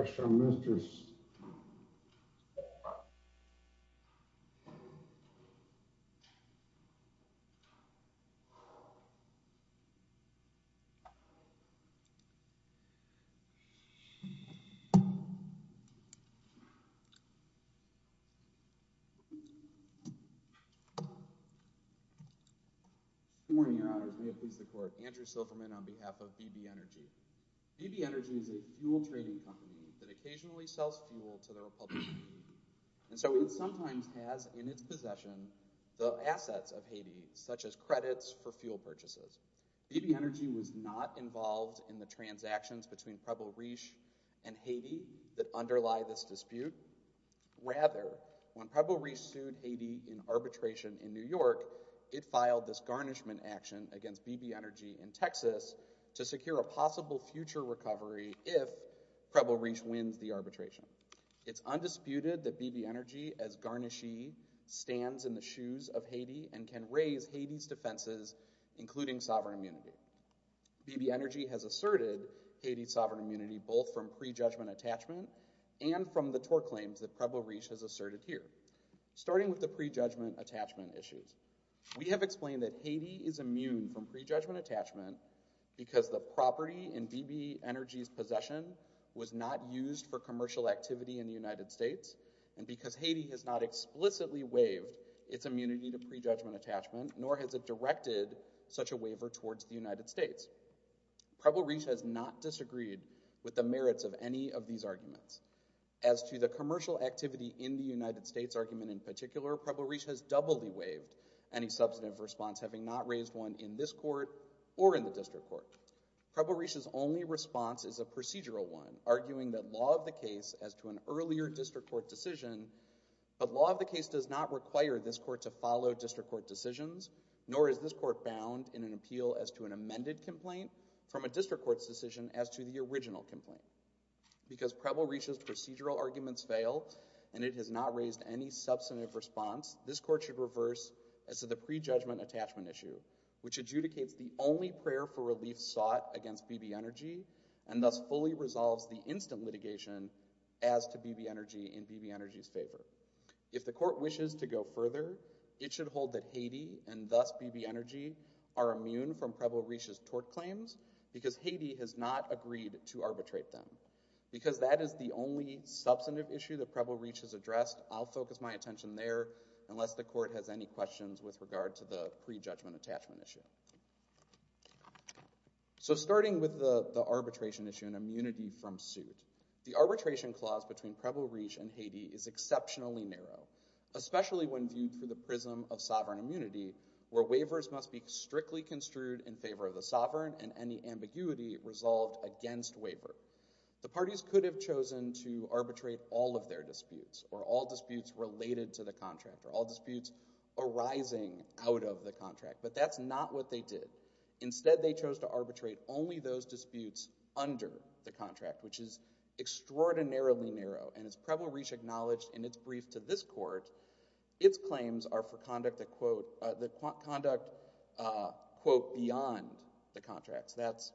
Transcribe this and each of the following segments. Extra, mistress. Good morning, your honors. May it please the court. Andrew Silverman on behalf of BB Energy. BB Energy is a fuel trading company that occasionally sells fuel to the Republic of Haiti. And so it sometimes has in its possession the assets of Haiti, such as credits for fuel purchases. BB Energy was not involved in the transactions between Preble-Rish and Haiti that underlie this dispute. Rather, when Preble-Rish sued Haiti in arbitration in New York, it filed this garnishment action against BB Energy in Texas to secure a possible future recovery if Preble-Rish wins the arbitration. It's undisputed that BB Energy, as garnishee, stands in the shoes of Haiti and can raise Haiti's defenses, including sovereign immunity. BB Energy has asserted Haiti's sovereign immunity both from prejudgment attachment and from the tort claims that Preble-Rish has asserted here, starting with the prejudgment attachment issues. We have explained that Haiti is immune from prejudgment attachment because the property in BB Energy's possession was not used for commercial activity in the United States and because Haiti has not explicitly waived its immunity to prejudgment attachment, nor has it directed such a waiver towards the United States. Preble-Rish has not disagreed with the merits of any of these arguments. As to the commercial activity in the United States argument in particular, Preble-Rish has doubly waived any substantive response, having not raised one in this court or in the district court. Preble-Rish's only response is a procedural one, arguing that law of the case as to an earlier district court decision, but law of the case does not require this court to follow district court decisions, nor is this court bound in an appeal as to an amended complaint from a district court's decision as to the original complaint because Preble-Rish's procedural arguments fail and it has not raised any substantive response, this court should reverse as to the prejudgment attachment issue, which adjudicates the only prayer for relief sought against BB Energy and thus fully resolves the instant litigation as to BB Energy in BB Energy's favor. If the court wishes to go further, it should hold that Haiti and thus BB Energy are immune from Preble-Rish's tort claims because Haiti has not agreed to arbitrate them. Because that is the only substantive issue that Preble-Rish has addressed, I'll focus my attention there unless the court has any questions with regard to the prejudgment attachment issue. So starting with the arbitration issue and immunity from suit, the arbitration clause between Preble-Rish and Haiti is exceptionally narrow, especially when viewed through the prism of sovereign immunity where waivers must be strictly construed in favor of the sovereign and any ambiguity resolved against waiver. The parties could have chosen to arbitrate all of their disputes or all disputes related to the contract or all disputes arising out of the contract, but that's not what they did. Instead, they chose to arbitrate only those disputes under the contract, which is extraordinarily narrow. And as Preble-Rish acknowledged in its brief to this court, its claims are for conduct that, quote, that conduct, quote, beyond the contracts. That's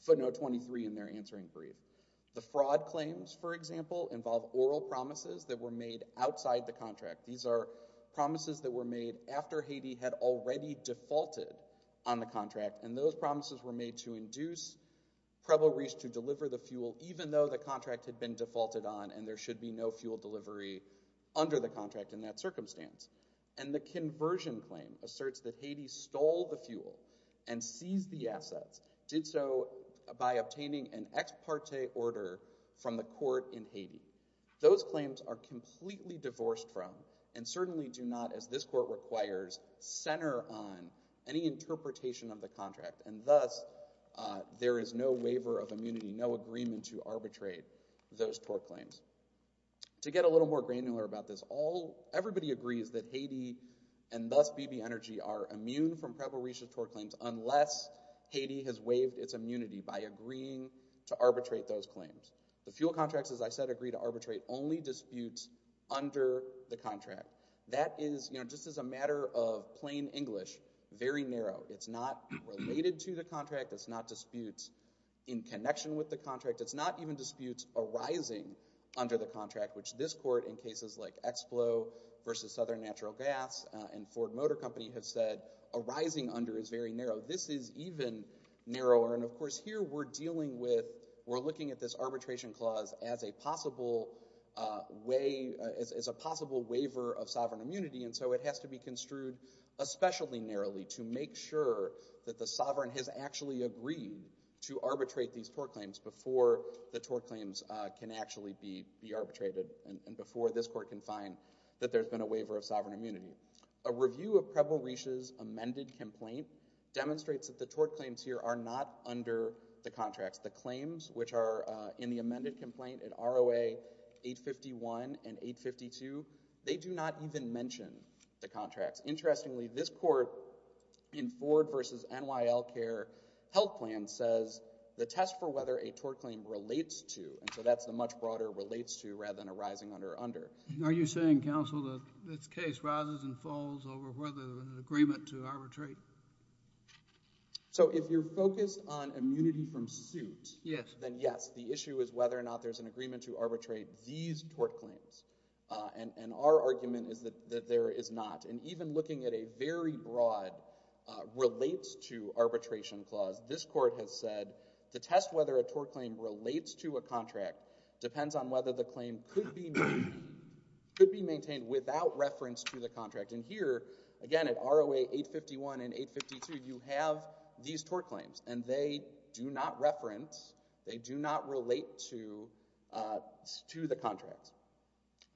footnote 23 in their answering brief. The fraud claims, for example, involve oral promises that were made outside the contract. These are promises that were made after Haiti had already defaulted on the contract, and those promises were made to induce Preble-Rish to deliver the fuel even though the contract had been defaulted on and there should be no fuel delivery under the contract in that circumstance. And the conversion claim asserts that Haiti stole the fuel and seized the assets, did so by obtaining an ex parte order from the court in Haiti. Those claims are completely divorced from and certainly do not, as this court requires, center on any interpretation of the contract, and thus there is no waiver of immunity, no agreement to arbitrate those tort claims. To get a little more granular about this, everybody agrees that Haiti and thus BB Energy are immune from Preble-Rish's tort claims unless Haiti has waived its immunity by agreeing to arbitrate those claims. The fuel contracts, as I said, agree to arbitrate only disputes under the contract. That is, just as a matter of plain English, very narrow. It's not related to the contract. It's not disputes in connection with the contract. It's not even disputes arising under the contract, which this court in cases like Explo versus Southern Natural Gas and Ford Motor Company have said arising under is very narrow. This is even narrower. And, of course, here we're dealing with, we're looking at this arbitration clause as a possible waiver of sovereign immunity, and so it has to be construed especially narrowly to make sure that the sovereign has actually agreed to arbitrate these tort claims before the tort claims can actually be arbitrated and before this court can find that there's been a waiver of sovereign immunity. A review of Preble-Rish's amended complaint demonstrates that the tort claims here are not under the contracts. The claims, which are in the amended complaint in ROA 851 and 852, they do not even mention the contracts. Interestingly, this court in Ford versus NYL Care Health Plan says the test for whether a tort claim relates to, and so that's the much broader relates to rather than arising under, under. Are you saying, counsel, that this case rises and falls over whether there's an agreement to arbitrate? So if you're focused on immunity from suit... Yes. ...then, yes, the issue is whether or not there's an agreement to arbitrate these tort claims. And our argument is that there is not. And even looking at a very broad relates to arbitration clause, this court has said the test whether a tort claim relates to a contract depends on whether the claim could be... could be maintained without reference to the contract. And here, again, at ROA 851 and 852, you have these tort claims, and they do not reference, they do not relate to, uh, to the contracts.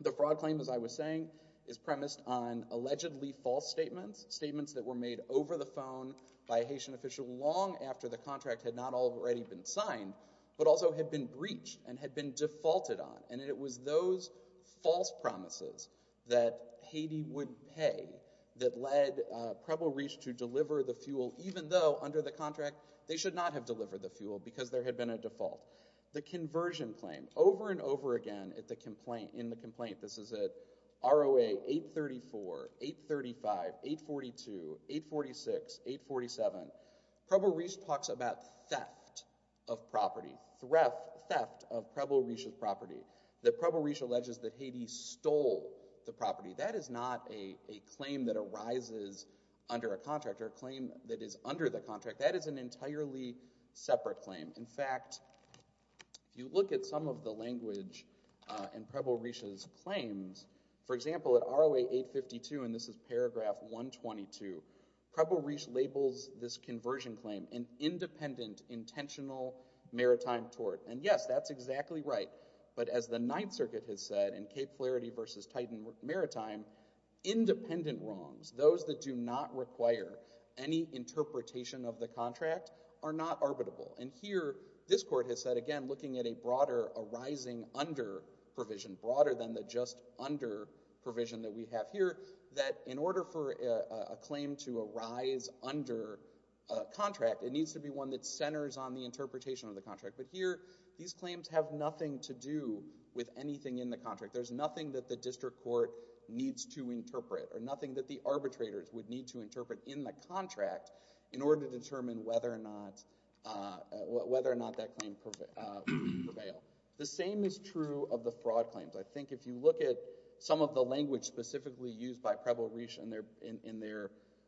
The fraud claim, as I was saying, is premised on allegedly false statements, statements that were made over the phone by a Haitian official long after the contract had not already been signed but also had been breached and had been defaulted on. And it was those false promises that Haiti would pay that led, uh, Preble Reach to deliver the fuel even though, under the contract, they should not have delivered the fuel because there had been a default. The conversion claim. Over and over again at the complaint... in the complaint. This is at ROA 834, 835, 842, 846, 847. Preble Reach talks about theft of property. Theft of Preble Reach's property. That Preble Reach alleges that Haiti stole the property. That is not a claim that arises under a contract or a claim that is under the contract. That is an entirely separate claim. In fact, if you look at some of the language, uh, in Preble Reach's claims, for example, at ROA 852, and this is paragraph 122, Preble Reach labels this conversion claim an independent, intentional maritime tort. And yes, that's exactly right. But as the Ninth Circuit has said in Cape Flaherty v. Titan Maritime, independent wrongs, those that do not require any interpretation of the contract, are not arbitrable. And here, this court has said, again, looking at a broader arising under provision, broader than the just under provision that we have here, that in order for a claim to arise under a contract, it needs to be one that centers on the interpretation of the contract. But here, these claims have nothing to do with anything in the contract. There's nothing that the district court needs to interpret, or nothing that the arbitrators would need to interpret in the contract in order to determine whether or not, whether or not that claim would prevail. The same is true of the fraud claims. I think if you look at some of the language specifically used by Preble Reach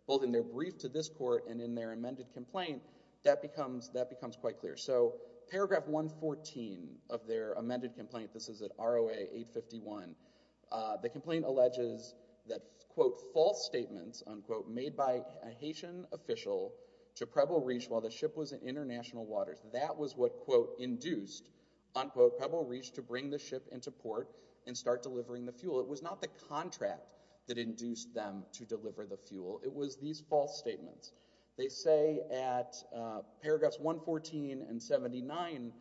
both in their brief to this court and in their amended complaint, that becomes quite clear. So paragraph 114 of their amended complaint, this is at ROA 851, the complaint alleges that, quote, false statements, unquote, made by a Haitian official to Preble Reach while the ship was in international waters. That was what, quote, induced, unquote, Preble Reach to bring the ship into port and start delivering the fuel. It was not the contract that induced them to deliver the fuel. It was these false statements. They say at paragraphs 114 and 79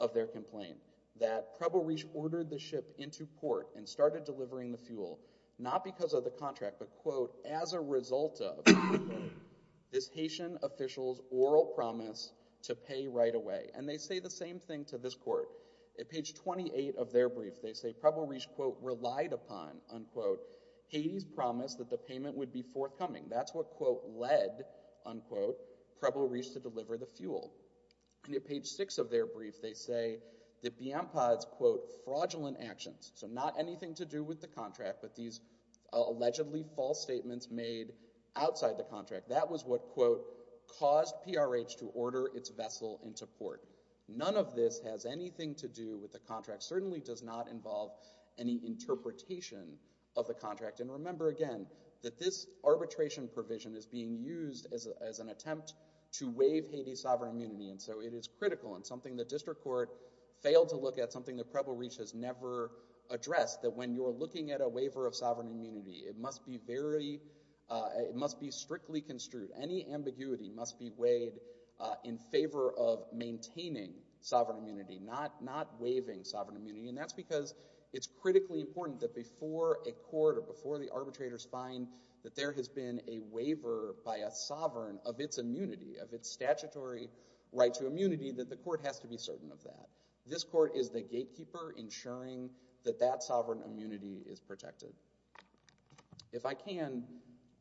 of their complaint that Preble Reach ordered the ship into port and started delivering the fuel, not because of the contract, but, quote, as a result of this Haitian official's oral promise to pay right away. And they say the same thing to this court. At page 28 of their brief, they say Preble Reach, quote, relied upon, unquote, Haiti's promise that the payment would be forthcoming. That's what, quote, led, unquote, Preble Reach to deliver the fuel. And at page six of their brief, they say that Biampad's, quote, fraudulent actions, so not anything to do with the contract, but these allegedly false statements made outside the contract. That was what, quote, caused PRH to order its vessel into port. None of this has anything to do with the contract, certainly does not involve any interpretation of the contract. And remember, again, that this arbitration provision is being used as an attempt to waive Haiti's sovereign immunity, and so it is critical and something the district court failed to look at, something that Preble Reach has never addressed, that when you're looking at a waiver of sovereign immunity, it must be very... it must be strictly construed. Any ambiguity must be weighed in favor of maintaining sovereign immunity, not waiving sovereign immunity, and that's because it's critically important that before a court or before the arbitrators find that there has been a waiver by a sovereign of its immunity, of its statutory right to immunity, that the court has to be certain of that. This court is the gatekeeper ensuring that that sovereign immunity is protected. If I can,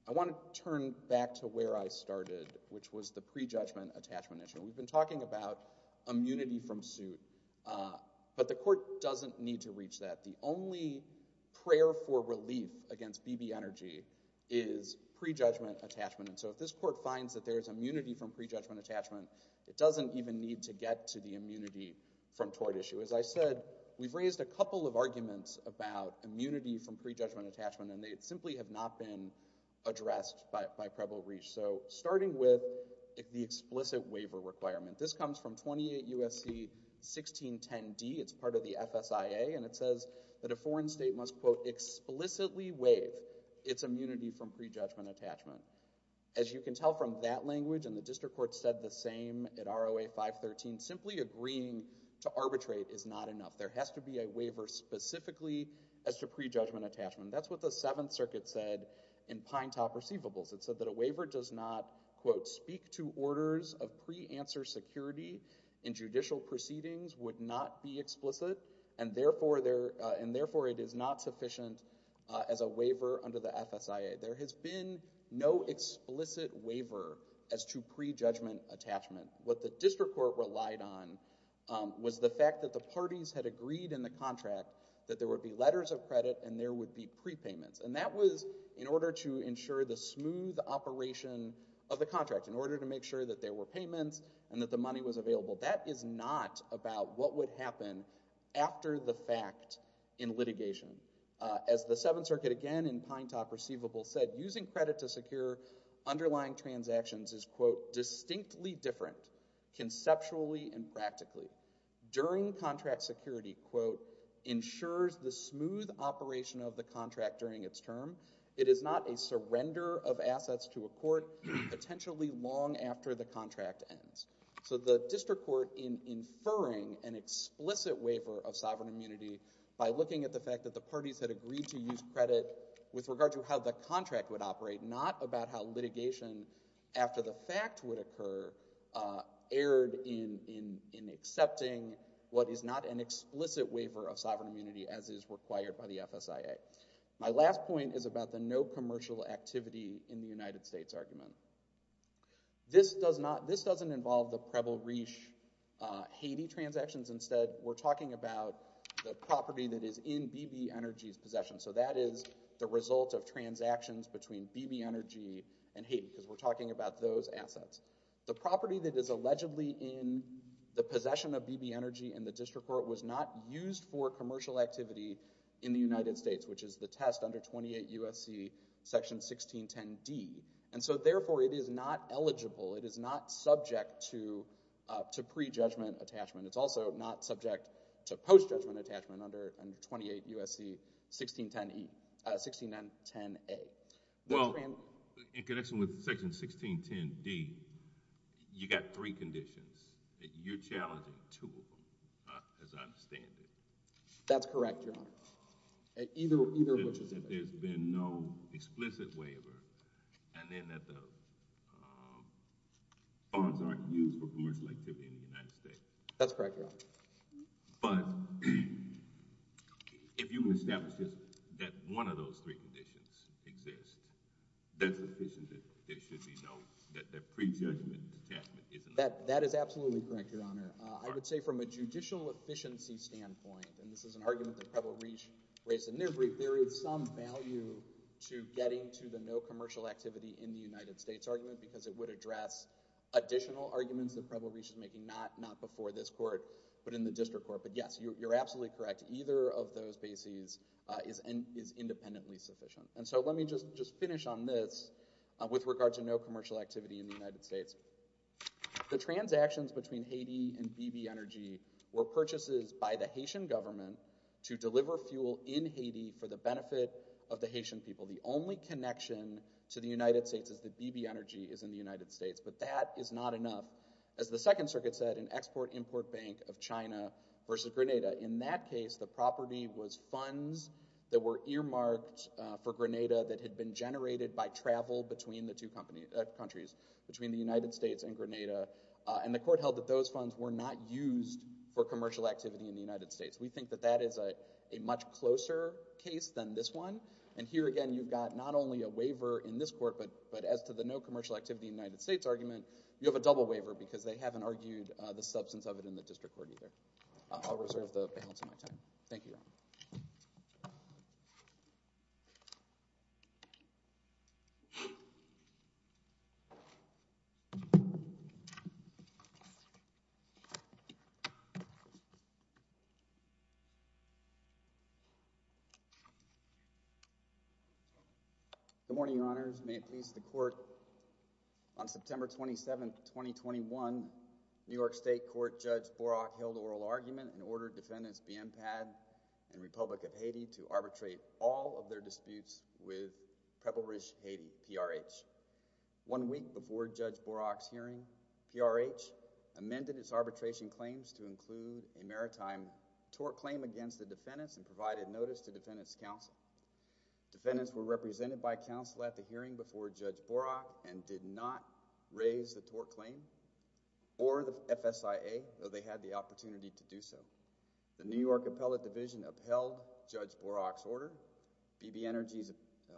I want to turn back to where I started, which was the prejudgment-attachment issue. We've been talking about immunity from suit, but the court doesn't need to reach that. The only prayer for relief against BB Energy is prejudgment-attachment, and so if this court finds that there is immunity from prejudgment-attachment, it doesn't even need to get to the immunity from tort issue. As I said, we've raised a couple of arguments about immunity from prejudgment-attachment and they simply have not been addressed by Preble-Reich. Starting with the explicit waiver requirement. This comes from 28 U.S.C. 1610d. It's part of the FSIA, and it says that a foreign state must explicitly waive its immunity from prejudgment-attachment. As you can tell from that language and the district court said the same at ROA 513, simply agreeing to arbitrate is not enough. There has to be a waiver specifically as to prejudgment-attachment. That's what the 7th Circuit said in Pine Top Receivables. It said that a waiver does not, quote, speak to orders of pre-answer security in judicial proceedings would not be explicit, and therefore it is not sufficient as a waiver under the FSIA. There has been no explicit waiver as to prejudgment-attachment. What the district court relied on was the fact that the parties had agreed in the contract that there would be letters of credit and there would be prepayments, and that was in order to ensure the smooth operation of the contract, in order to make sure that there were payments and that the money was available. That is not about what would happen after the fact in litigation. As the 7th Circuit again in Pine Top Receivables said, using credit to provide protections is, quote, distinctly different, conceptually and practically. During contract security, quote, ensures the smooth operation of the contract during its term. It is not a surrender of assets to a court, potentially long after the contract ends. So the district court, in inferring an explicit waiver of sovereign immunity by looking at the fact that the parties had agreed to use credit with regard to how the contract would operate, not about how litigation after the fact would occur erred in accepting what is not an explicit waiver of sovereign immunity, as is required by the FSIA. My last point is about the no commercial activity in the United States argument. This doesn't involve the Preble-Riche-Haiti transactions. Instead, we're talking about the property that is in BB Energy's possession. So that is the result of transactions between BB Energy and Haiti, because we're talking about those assets. The property that is allegedly in the possession of BB Energy in the district court was not used for commercial activity in the United States, which is the test under 28 USC section 1610D. And so, therefore, it is not eligible, it is not subject to pre-judgment attachment. It's also not subject to post-judgment attachment under 28 USC 1610A. Well, in connection with section 1610D, you got three conditions. You're challenging two of them, as I understand it. That's correct, Your Honor. Either of which is effective. There's been no explicit waiver, and then that the bonds aren't used for commercial activity in the United States. That's correct, Your Honor. But, if you establish that one of those three conditions exists, that's sufficient that there should be no pre-judgment attachment. That is absolutely correct, Your Honor. I would say from a judicial efficiency standpoint, and this is an argument that Preble-Reach raised in their brief, there is some value to getting to the no commercial activity in the United States argument, because it would address additional arguments that Preble-Reach is making, not before this court, but in the district court. But yes, you're absolutely correct. Either of those bases is independently sufficient. Let me just finish on this with regard to no commercial activity in the United States. The transactions between Haiti and BB Energy were purchases by the Haitian government to deliver fuel in Haiti for the benefit of the Haitian people. The only connection to the United States is that BB Energy is in the United States, but that is not enough. As the Second Circuit said, an export-import bank of China versus Grenada. In that case, the property was funds that were earmarked for Grenada that had been generated by travel between the two countries, between the United States and Grenada. The court held that those funds were not used for commercial activity in the United States. We think that that is a much closer case than this one. Here again, you've got not only a waiver in this court, but as to the no commercial activity in the United States argument, you have a double waiver because they haven't argued the substance of it in the district court either. I'll reserve the balance of my time. Thank you, Your Honor. Good morning, Your Honors. May it please the Court, on September 27, 2021, New York State Court Judge Borach held oral argument and ordered defendants Bienpad and Republic of Haiti to arbitrate all of their disputes with Preble Ridge, Haiti, PRH. One week before Judge Borach's hearing, PRH amended its arbitration claims to include a maritime tort claim against the defendants and provided notice to defendants' counsel. Defendants were represented by counsel at the hearing before Judge Borach and did not raise the tort claim or the FSIA, though they had the opportunity to do so. The New York Appellate Division upheld Judge Borach's order. BB Energy's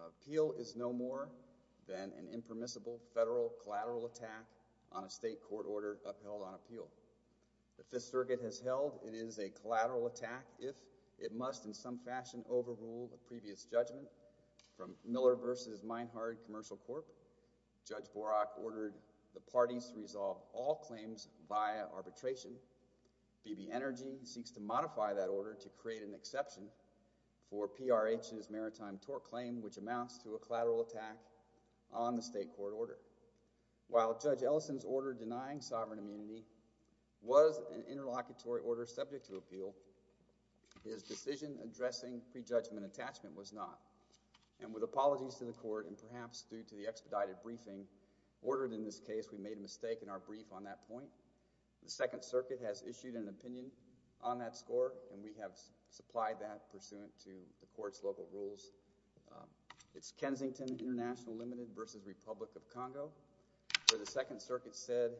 appeal is no more than an impermissible federal collateral attack on a state court order upheld on appeal. The Fifth Circuit has held it is a collateral attack if it must in some fashion overrule the previous judgment from Miller v. Meinhard Commercial Corp. Judge Borach ordered the parties to resolve all claims via arbitration. BB Energy seeks to modify that order to create an exception for PRH's maritime tort claim which amounts to a collateral attack on the state court order. While Judge Ellison's order denying sovereign immunity was an interlocutory order subject to appeal, his decision addressing prejudgment attachment was not. And with apologies to the court and perhaps due to the expedited briefing ordered in this case, we made a mistake in our brief on that point. The Second Circuit has issued an opinion on that score and we have supplied that pursuant to the court's local rules. It's Kensington International Limited v. Republic of Congo where the Second Circuit said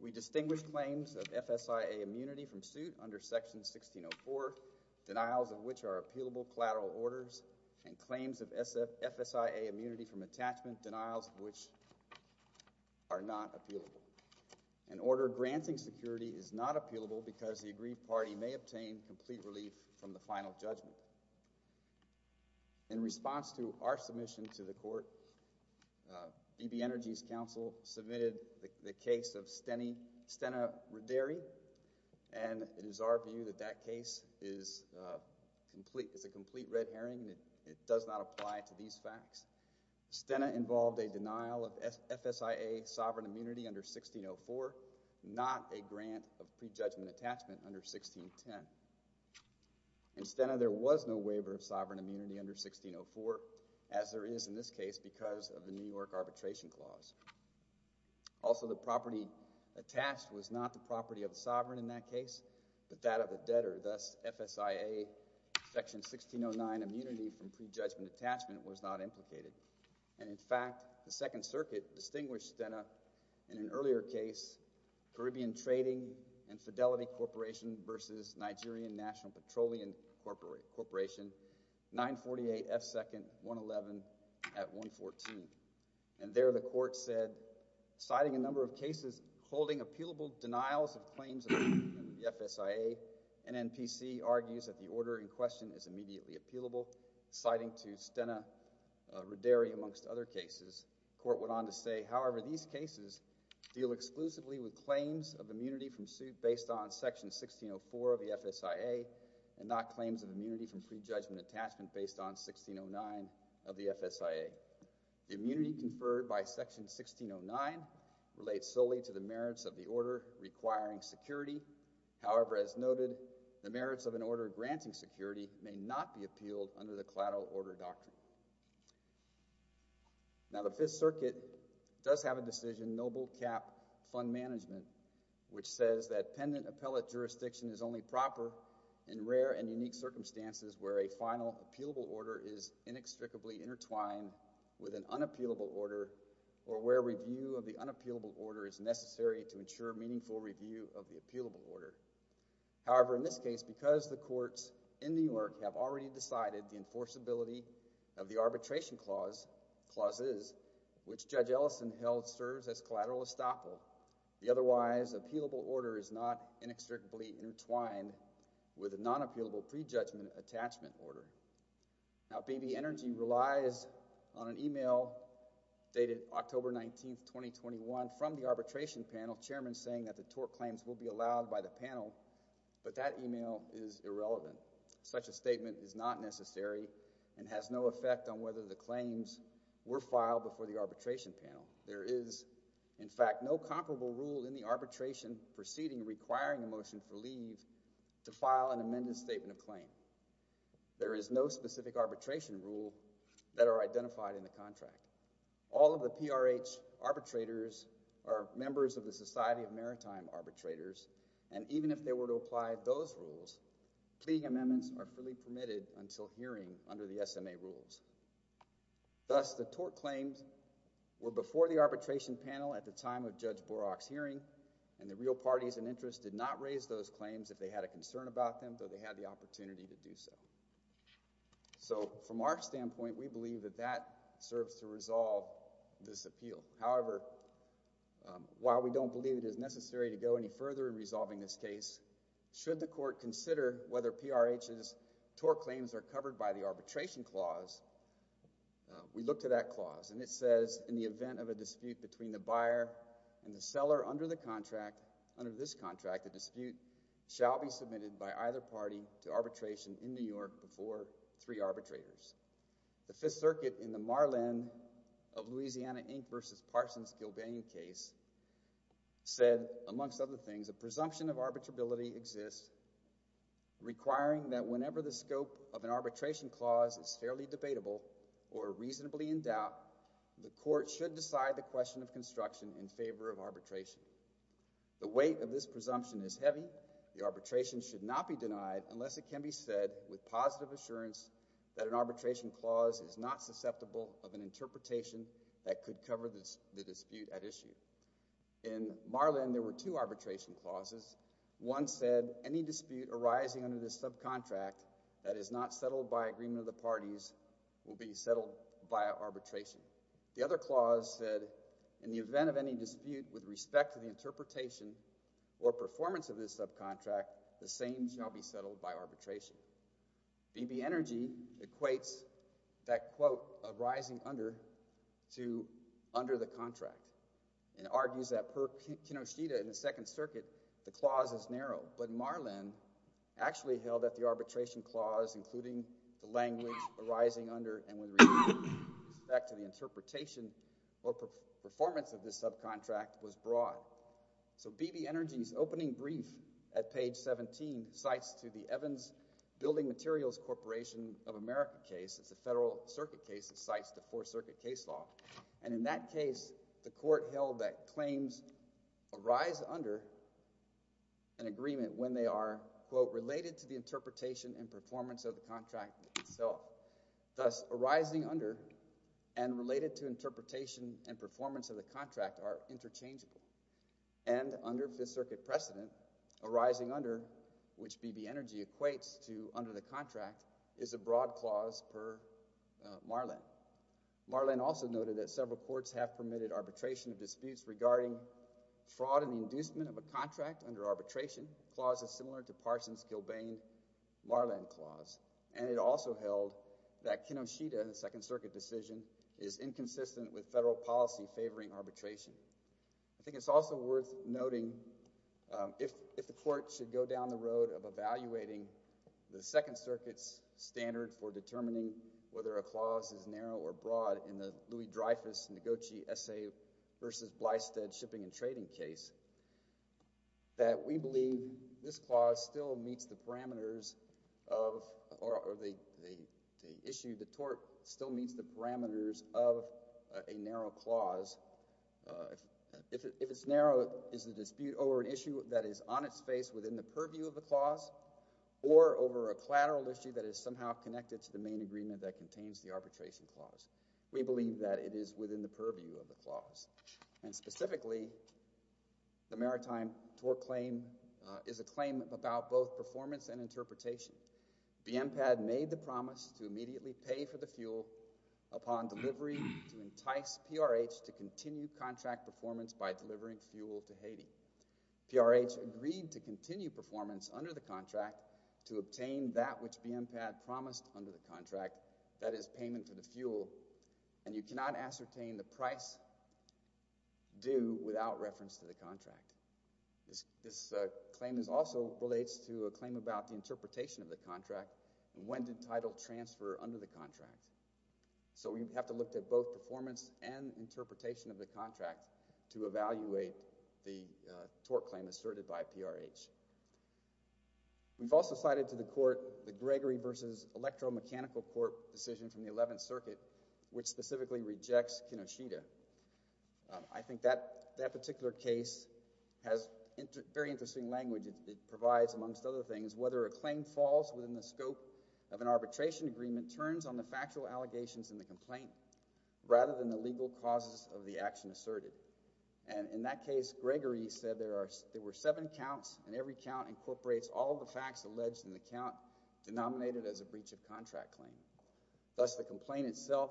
we distinguish claims of FSIA immunity from suit under Section 1604, denials of which are appealable collateral orders and claims of FSIA immunity from attachment, denials of which are not appealable. An order granting security is not appealable because the aggrieved party may obtain complete relief from the final judgment. In response to our submission to the court, BB Energy's council submitted the case of Stena Raderi and it is our view that that case is a complete red herring. It does not apply to these facts. Stena involved a denial of FSIA sovereign immunity under 1604, not a grant of prejudgment attachment under 1610. In Stena, there was no waiver of sovereign immunity under 1604 as there is in this case because of the New York Arbitration Clause. Also, the property attached was not the property of the sovereign in that case, but that of the debtor, thus FSIA Section 1609 immunity from prejudgment attachment was not implicated. And in fact, the Second Circuit distinguished Stena in an earlier case, Caribbean Trading and Fidelity Corporation versus Nigerian National Petroleum Corporation, 948 F2nd 111 at 114. And there the court said, citing a number of cases holding appealable denials of claims of FSIA, an NPC argues that the order in question is immediately appealable, citing to Stena Roderi amongst other cases. The court went on to say, however, these cases deal exclusively with claims of immunity from suit based on Section 1604 of the FSIA and not claims of immunity from prejudgment attachment based on 1609 of the FSIA. The immunity conferred by Section 1609 relates solely to the merits of the order requiring security. However, as noted, the merits of an order granting security may not be appealed under the collateral order doctrine. Now, the Fifth Circuit does have a decision, Noble Cap Fund Management, which says that pendant appellate jurisdiction is only proper in rare and unique circumstances where a final appealable order is inextricably intertwined with an unappealable order or where review of the unappealable order is inextricably intertwined with a non-appealable pre-judgment attachment order. Now, B.B. Energy relies on an email dated October 19, 2021 from the arbitration panel, relies on an email dated October 19, 2021 from the arbitration panel, chairman of the arbitration panel. arbitration panel may be allowed by the panel, but that email is irrelevant. Such a statement is not necessary and has no effect on whether the claims were filed before the arbitration panel. There is, in fact, no comparable rule in the arbitration proceeding requiring a motion for leave to file an amended statement of claim. There is no specific arbitration rule that are identified in the contract. All of the PRH arbitrators are members of the Society of Maritime Arbitrators, and even if they were to apply those rules, plea amendments are freely permitted until hearing under the SMA rules. Thus, the tort claims were before the arbitration panel at the time of Judge Borach's hearing, and the real parties in interest did not raise those claims if they had a concern about them, though they had the opportunity to do so. So, from our standpoint, we believe that that serves to resolve this appeal. However, while we don't believe it is necessary to go any further in resolving this case, should the court consider whether PRH's tort claims are covered by the arbitration clause, we look to that clause, and it says, in the event of a dispute between the buyer and the seller under the contract, under this clause submitted by either party to arbitration in New York before three arbitrators. The Fifth Circuit in the Marlin of Louisiana Inc. v. Parsons-Gilbany case said, amongst other things, a presumption of arbitrability exists requiring that whenever the scope of an arbitration clause is fairly debatable or reasonably in doubt, the court should decide the question of construction in favor of arbitration. The weight of this presumption is heavy. The arbitration should not be denied unless it can be said with positive assurance that an arbitration clause is not susceptible of an interpretation that could cover the dispute at issue. In Marlin, there were two arbitration clauses. One said, any dispute arising under this subcontract that is not settled by agreement of the parties will be settled by arbitration. The other clause said, in the event of any dispute with respect to the interpretation or performance of this subcontract, the same shall be settled by arbitration. B.B. Energy equates that quote arising under to under the contract and argues that per Kinoshita in the Second Circuit, the clause is narrow, but Marlin actually held that the arbitration clause including the language arising under and with respect to the interpretation or performance of this subcontract was broad. So B.B. Energy's opening brief at page 17 cites to the Evans Building Materials Corporation of America case. It's a Federal Circuit case that cites the Fourth Circuit case law. And in that case, the court held that claims arise under an agreement when they are, quote, related to the interpretation and performance of the contract itself. Thus, arising under and related to interpretation and performance of the contract are interchangeable. And under Fifth Circuit precedent, arising under, which B.B. Energy equates to under the contract, is a broad clause per Marlin. Marlin also noted that several courts have permitted arbitration of disputes regarding fraud and inducement of a contract under arbitration, clauses similar to Parsons-Gilbane-Marlin clause. And it also held that Kinoshita, the Second Circuit decision, is inconsistent with Federal policy favoring arbitration. I think it's also worth noting if the court should go down the road of evaluating the Second Circuit's standard for determining whether a clause is narrow or broad in the Louis-Dreyfus-Noguchi-Essay versus Blystead-Shipping-and-Trading case, that we believe this clause still meets the parameters of, or the issue, the tort still meets the parameters of a narrow clause. If it's narrow, is the dispute over an issue that is on its face within the purview of the clause or over a collateral issue that is somehow connected to the main agreement that contains the arbitration clause? We believe that it is within the purview of the clause. And specifically, the maritime tort claim is a claim about both performance and interpretation. BMPAD made the promise to immediately pay for the fuel upon delivery to entice PRH to continue contract performance by delivering fuel to Haiti. PRH agreed to continue performance under the contract to obtain that which BMPAD promised under the contract, that is payment to the fuel, and you cannot ascertain the price due without reference to the contract. This claim also relates to a claim about the interpretation of the contract. When did title transfer under the contract? So we have to look at both performance and interpretation of the contract to evaluate the tort claim asserted by PRH. We've also cited to the court the Gregory v. Electromechanical Court decision from the 11th Circuit, which specifically rejects Kinoshita. I think that particular case has very interesting language it provides, amongst other things, whether a claim falls within the scope of an arbitration agreement turns on the factual allegations in the complaint rather than the legal causes of the action asserted. And in that case, Gregory said there were seven counts, and every count incorporates all the facts alleged in the count denominated as a breach of contract claim. Thus the complaint itself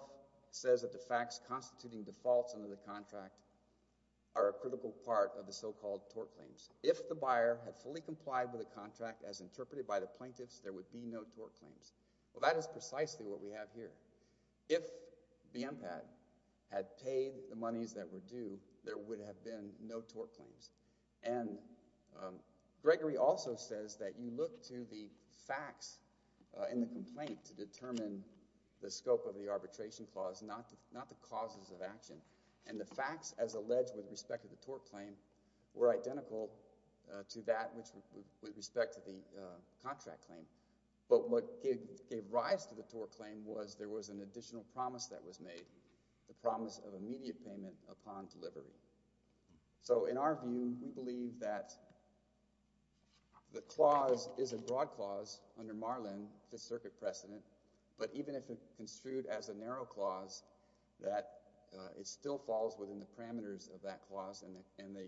says that the facts constituting defaults under the contract are a critical part of the so-called tort claims. If the buyer had fully complied with the contract as interpreted by the plaintiffs, there would be no tort claims. Well, that is precisely what we have here. If the MPAD had paid the monies that were due, there would have been no tort claims. And Gregory also says that you look to the facts in the complaint to determine the scope of the arbitration clause, not the causes of action. And the facts, as alleged with respect to the tort claim, were identical to that which with respect to the contract claim. But what gave rise to the tort claim was there was an additional promise that was made, the promise of immediate payment upon delivery. So in our view, we believe that the clause is a broad clause under Marlin, Fifth Circuit precedent, but even if it's construed as a narrow clause, that it still falls within the parameters of that clause, and the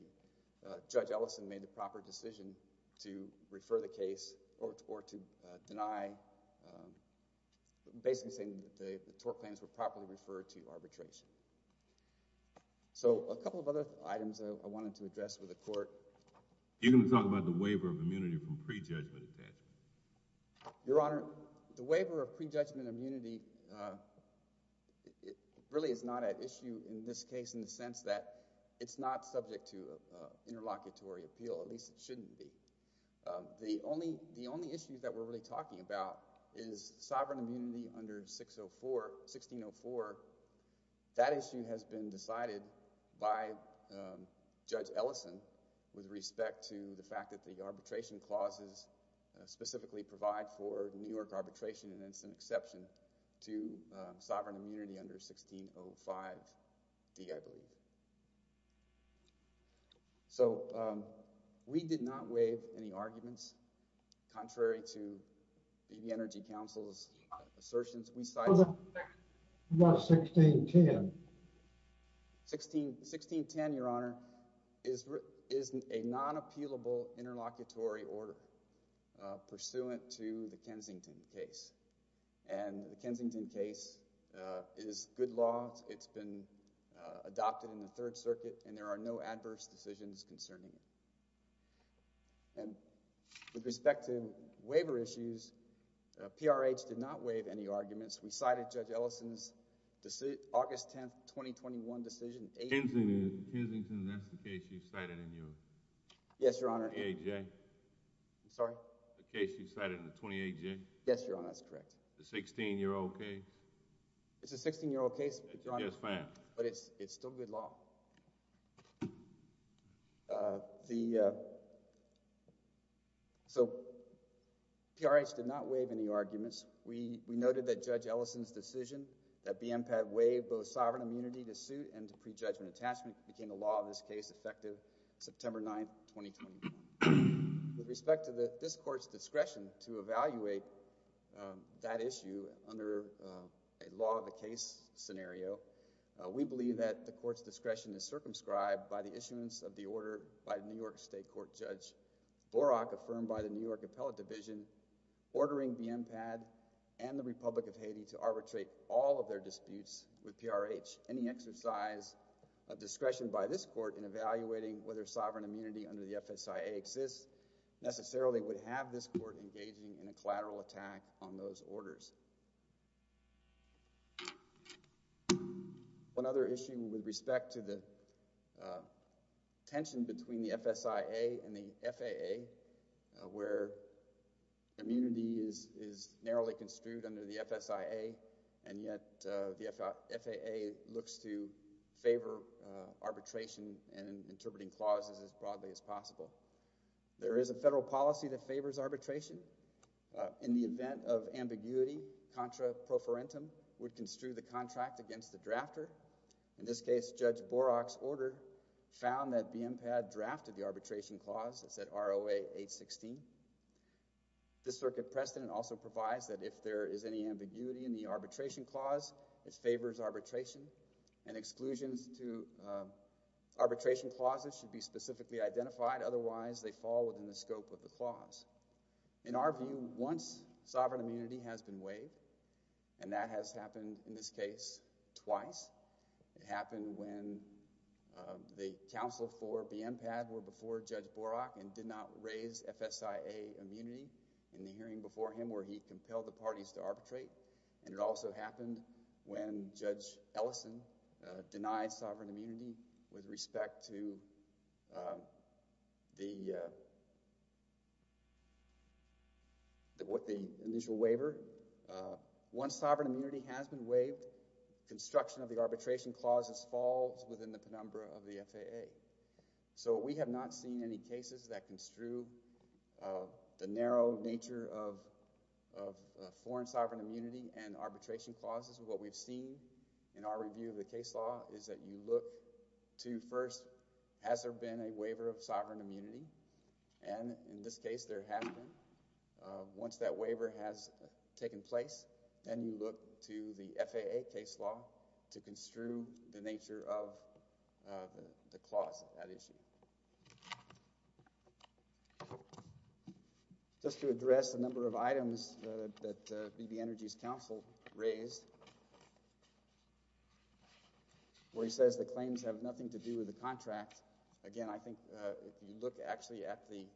Judge Ellison made the proper decision to refer the case or to deny basically saying that the tort claims were properly referred to arbitration. So a couple of other items I wanted to address with the Court. You're going to talk about the waiver of immunity from pre-judgment attachment. Your Honor, the waiver of pre-judgment immunity really is not at issue in this case in the sense that it's not subject to interlocutory appeal, at least it shouldn't be. The only issue that we're really talking about is sovereign immunity under 1604. That issue has been decided by Judge Ellison with respect to the fact that the courts specifically provide for New York arbitration, and it's an exception to sovereign immunity under 1605D, I believe. So we did not waive any arguments contrary to the Energy Council's assertions. What about 1610? 1610, Your Honor, is a non-appealable interlocutory order pursuant to the Kensington case, and the Kensington case is good law. It's been adopted in the Third Circuit, and there are no adverse decisions concerning it. And with respect to waiver issues, PRH did not waive any arguments. We cited Judge Ellison's August 10, 2021 decision. Kensington, that's the case you cited in your 28J? Yes, Your Honor. The case you cited in the 28J? Yes, Your Honor, that's correct. The 16-year-old case? It's a 16-year-old case, Your Honor, but it's still good law. So PRH did not waive any arguments. We noted that Judge Ellison's decision that BMPAD waive both sovereign immunity to suit and to prejudgment attachment became a law of this case, effective September 9, 2021. With respect to this Court's discretion to evaluate that issue under a law of the case scenario, we believe that the Court's discretion is circumscribed by the issuance of the order by New York State Court Judge Borach affirmed by the New York Appellate Division ordering BMPAD and the Republic of Haiti to arbitrate all of their disputes with PRH. Any exercise of discretion by this Court in evaluating whether sovereign immunity under the FSIA exists necessarily would have this Court engaging in a collateral attack on those orders. One other issue with respect to the tension between the FSIA and the FAA where immunity is narrowly construed under the FSIA and yet the FAA looks to favor arbitration and interpreting clauses as broadly as possible. There is a federal policy that favors arbitration. In the event of ambiguity, contra pro forentum would construe the contract against the drafter. In this case, Judge Borach's order found that BMPAD drafted the arbitration clause. It said ROA 816. This circuit precedent also provides that if there is any ambiguity in the arbitration clause, it favors arbitration and exclusions to arbitration clauses should be specifically identified. Otherwise, they fall within the scope of the clause. In our view, once sovereign immunity has been waived and that has happened in this case twice. It happened when the counsel for BMPAD were before Judge Borach and did not raise FSIA immunity in the hearing before him where he compelled the parties to arbitrate. It also happened when Judge Ellison denied sovereign immunity with respect to the initial waiver. Once sovereign immunity has been waived, construction of the arbitration clause falls within the penumbra of the FAA. We have not seen any cases that show nature of foreign sovereign immunity and arbitration clauses. What we've seen in our review of the case law is that you look to first has there been a waiver of sovereign immunity and in this case there has been. Once that waiver has taken place, then you look to the FAA case law to construe the nature of the clause at issue. To address a number of items that B.B. Energy's counsel raised, where he says the claims have nothing to do with the contract, again, I think if you look actually at the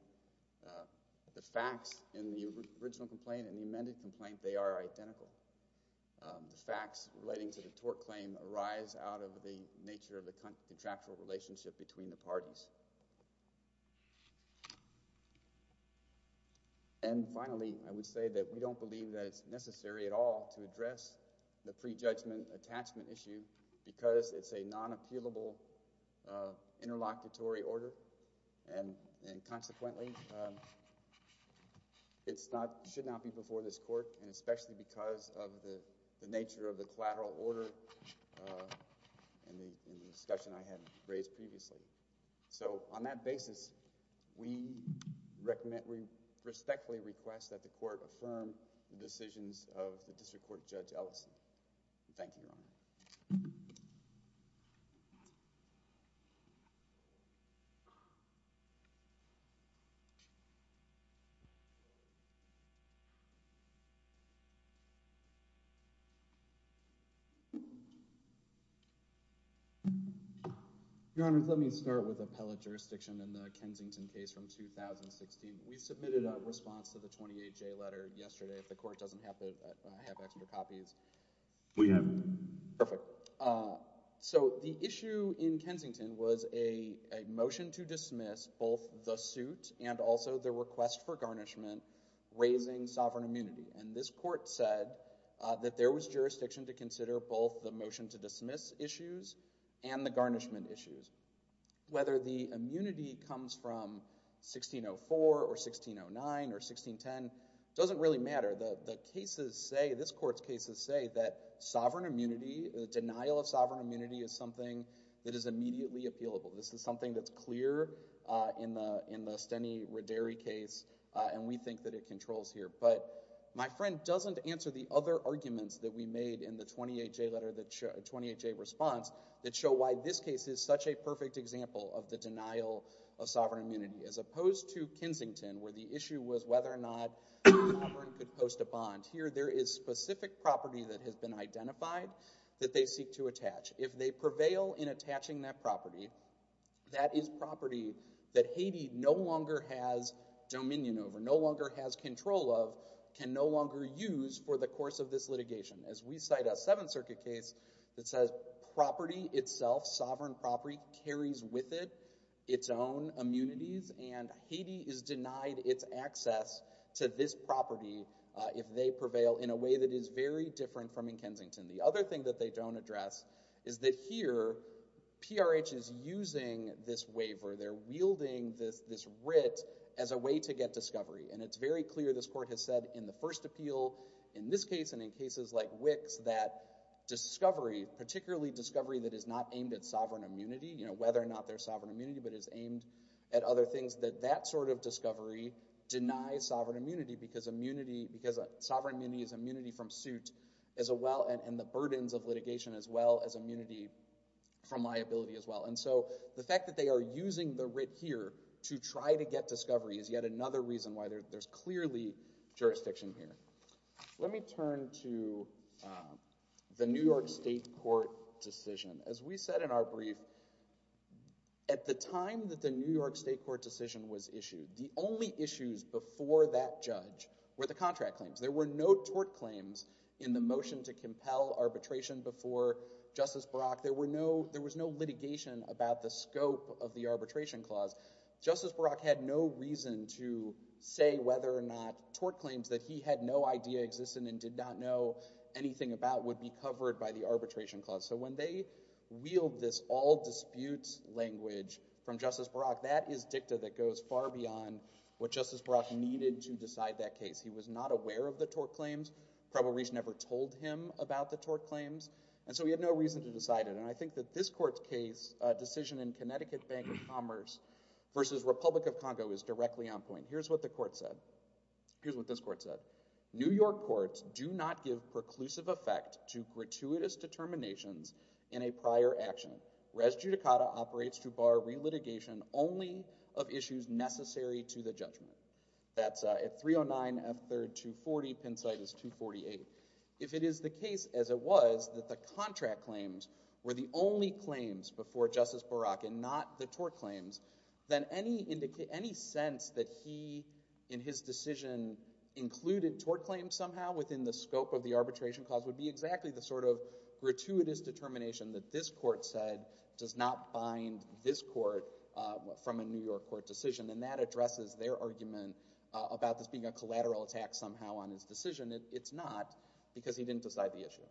facts in the original complaint and the amended complaint, they are identical. The facts relating to the tort claim arise out of the nature of the contractual relationship between the parties. Finally, I would say that we don't believe that it's necessary at all to address the prejudgment attachment issue because it's a non- appealable interlocutory order and consequently it should not be before this court and especially because of the nature of the collateral order in the discussion I had raised previously. On that basis, we respectfully request that the court affirm the decisions of the District Court Judge Ellison. Thank you, Your Honor. Your Honor, let me start with appellate jurisdiction in the case of Kensington. We submitted a response to the 28J letter yesterday. If the court doesn't have extra copies. We have. Perfect. The issue in Kensington was a motion to dismiss both the suit and also the request for garnishment raising sovereign immunity. This court said that there was jurisdiction to consider both the motion to dismiss issues and the garnishment issues. Whether the immunity comes from 1604 or 1609 or 1610 doesn't really matter. The cases say, this court's cases say that sovereign immunity, the denial of sovereign immunity is something that is immediately appealable. This is something that's clear in the Steny Rodary case and we think that it controls here. But my friend doesn't answer the other arguments that we made in the 28J letter 28J response that show why this case is such a perfect example of the denial of sovereign immunity as opposed to Kensington where the issue was whether or not the sovereign could post a bond. Here there is specific property that has been identified that they seek to attach. If they prevail in attaching that property, that is property that Haiti no longer has dominion over, no longer has control of, can no longer use for the course of this litigation. As we cite a Seventh Circuit case that says property itself, sovereign property, carries with it its own immunities and Haiti is denied its access to this property if they prevail in a way that is very different from in Kensington. The other thing that they don't address is that here PRH is using this waiver, they're wielding this writ as a way to get discovery. And it's very clear this court has said in the first appeal in this case and in cases like Wicks that discovery, particularly discovery that is not aimed at sovereign immunity, whether or not there is sovereign immunity but is aimed at other things that that sort of discovery denies sovereign immunity because sovereign immunity is immunity from suit as well and the burdens of litigation as well as immunity from liability as well. And so the fact that they are using the writ here to try to get discovery is yet another reason why there's clearly jurisdiction here. Let me turn to the New York State Court decision. As we said in our brief, at the time that the New York State Court decision was issued, the only issues before that judge were the contract claims. There were no tort claims in the motion to compel arbitration before Justice Barack. There was no litigation about the scope of the arbitration clause. Justice Barack had no reason to say whether or not tort claims that he had no idea existed and did not know anything about would be covered by the arbitration clause. So when they wheeled this all dispute language from Justice Barack, that is dicta that goes far beyond what Justice Barack needed to decide that case. He was not aware of the tort claims, probably never told him about the tort claims and so he had no reason to decide it. And I think that this court's case, decision in Connecticut Bank of Commerce versus Republic of Congo is directly on point. Here's what the court said. Here's what this court said. New York courts do not give preclusive effect to gratuitous determinations in a prior action. Res judicata operates to bar relitigation only of issues necessary to the judgment. That's at 309 F. 3rd 240, Penn site is 248. If it is the case as it was that the contract claims were the only claims before Justice Barack and not the tort claims, then any sense that he in his decision included tort claims somehow within the scope of the arbitration clause would be exactly the sort of gratuitous determination that this court said does not bind this court from a New York court decision and that addresses their argument about this being a collateral attack somehow on his decision. It's not because he didn't decide the issue.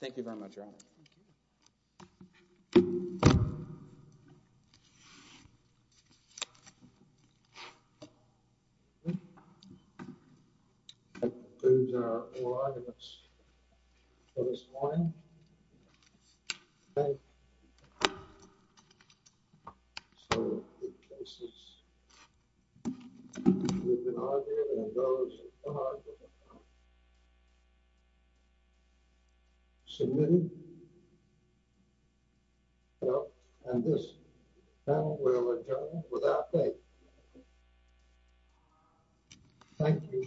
Thank you very much. Submitted. And this panel will adjourn without a Thank you.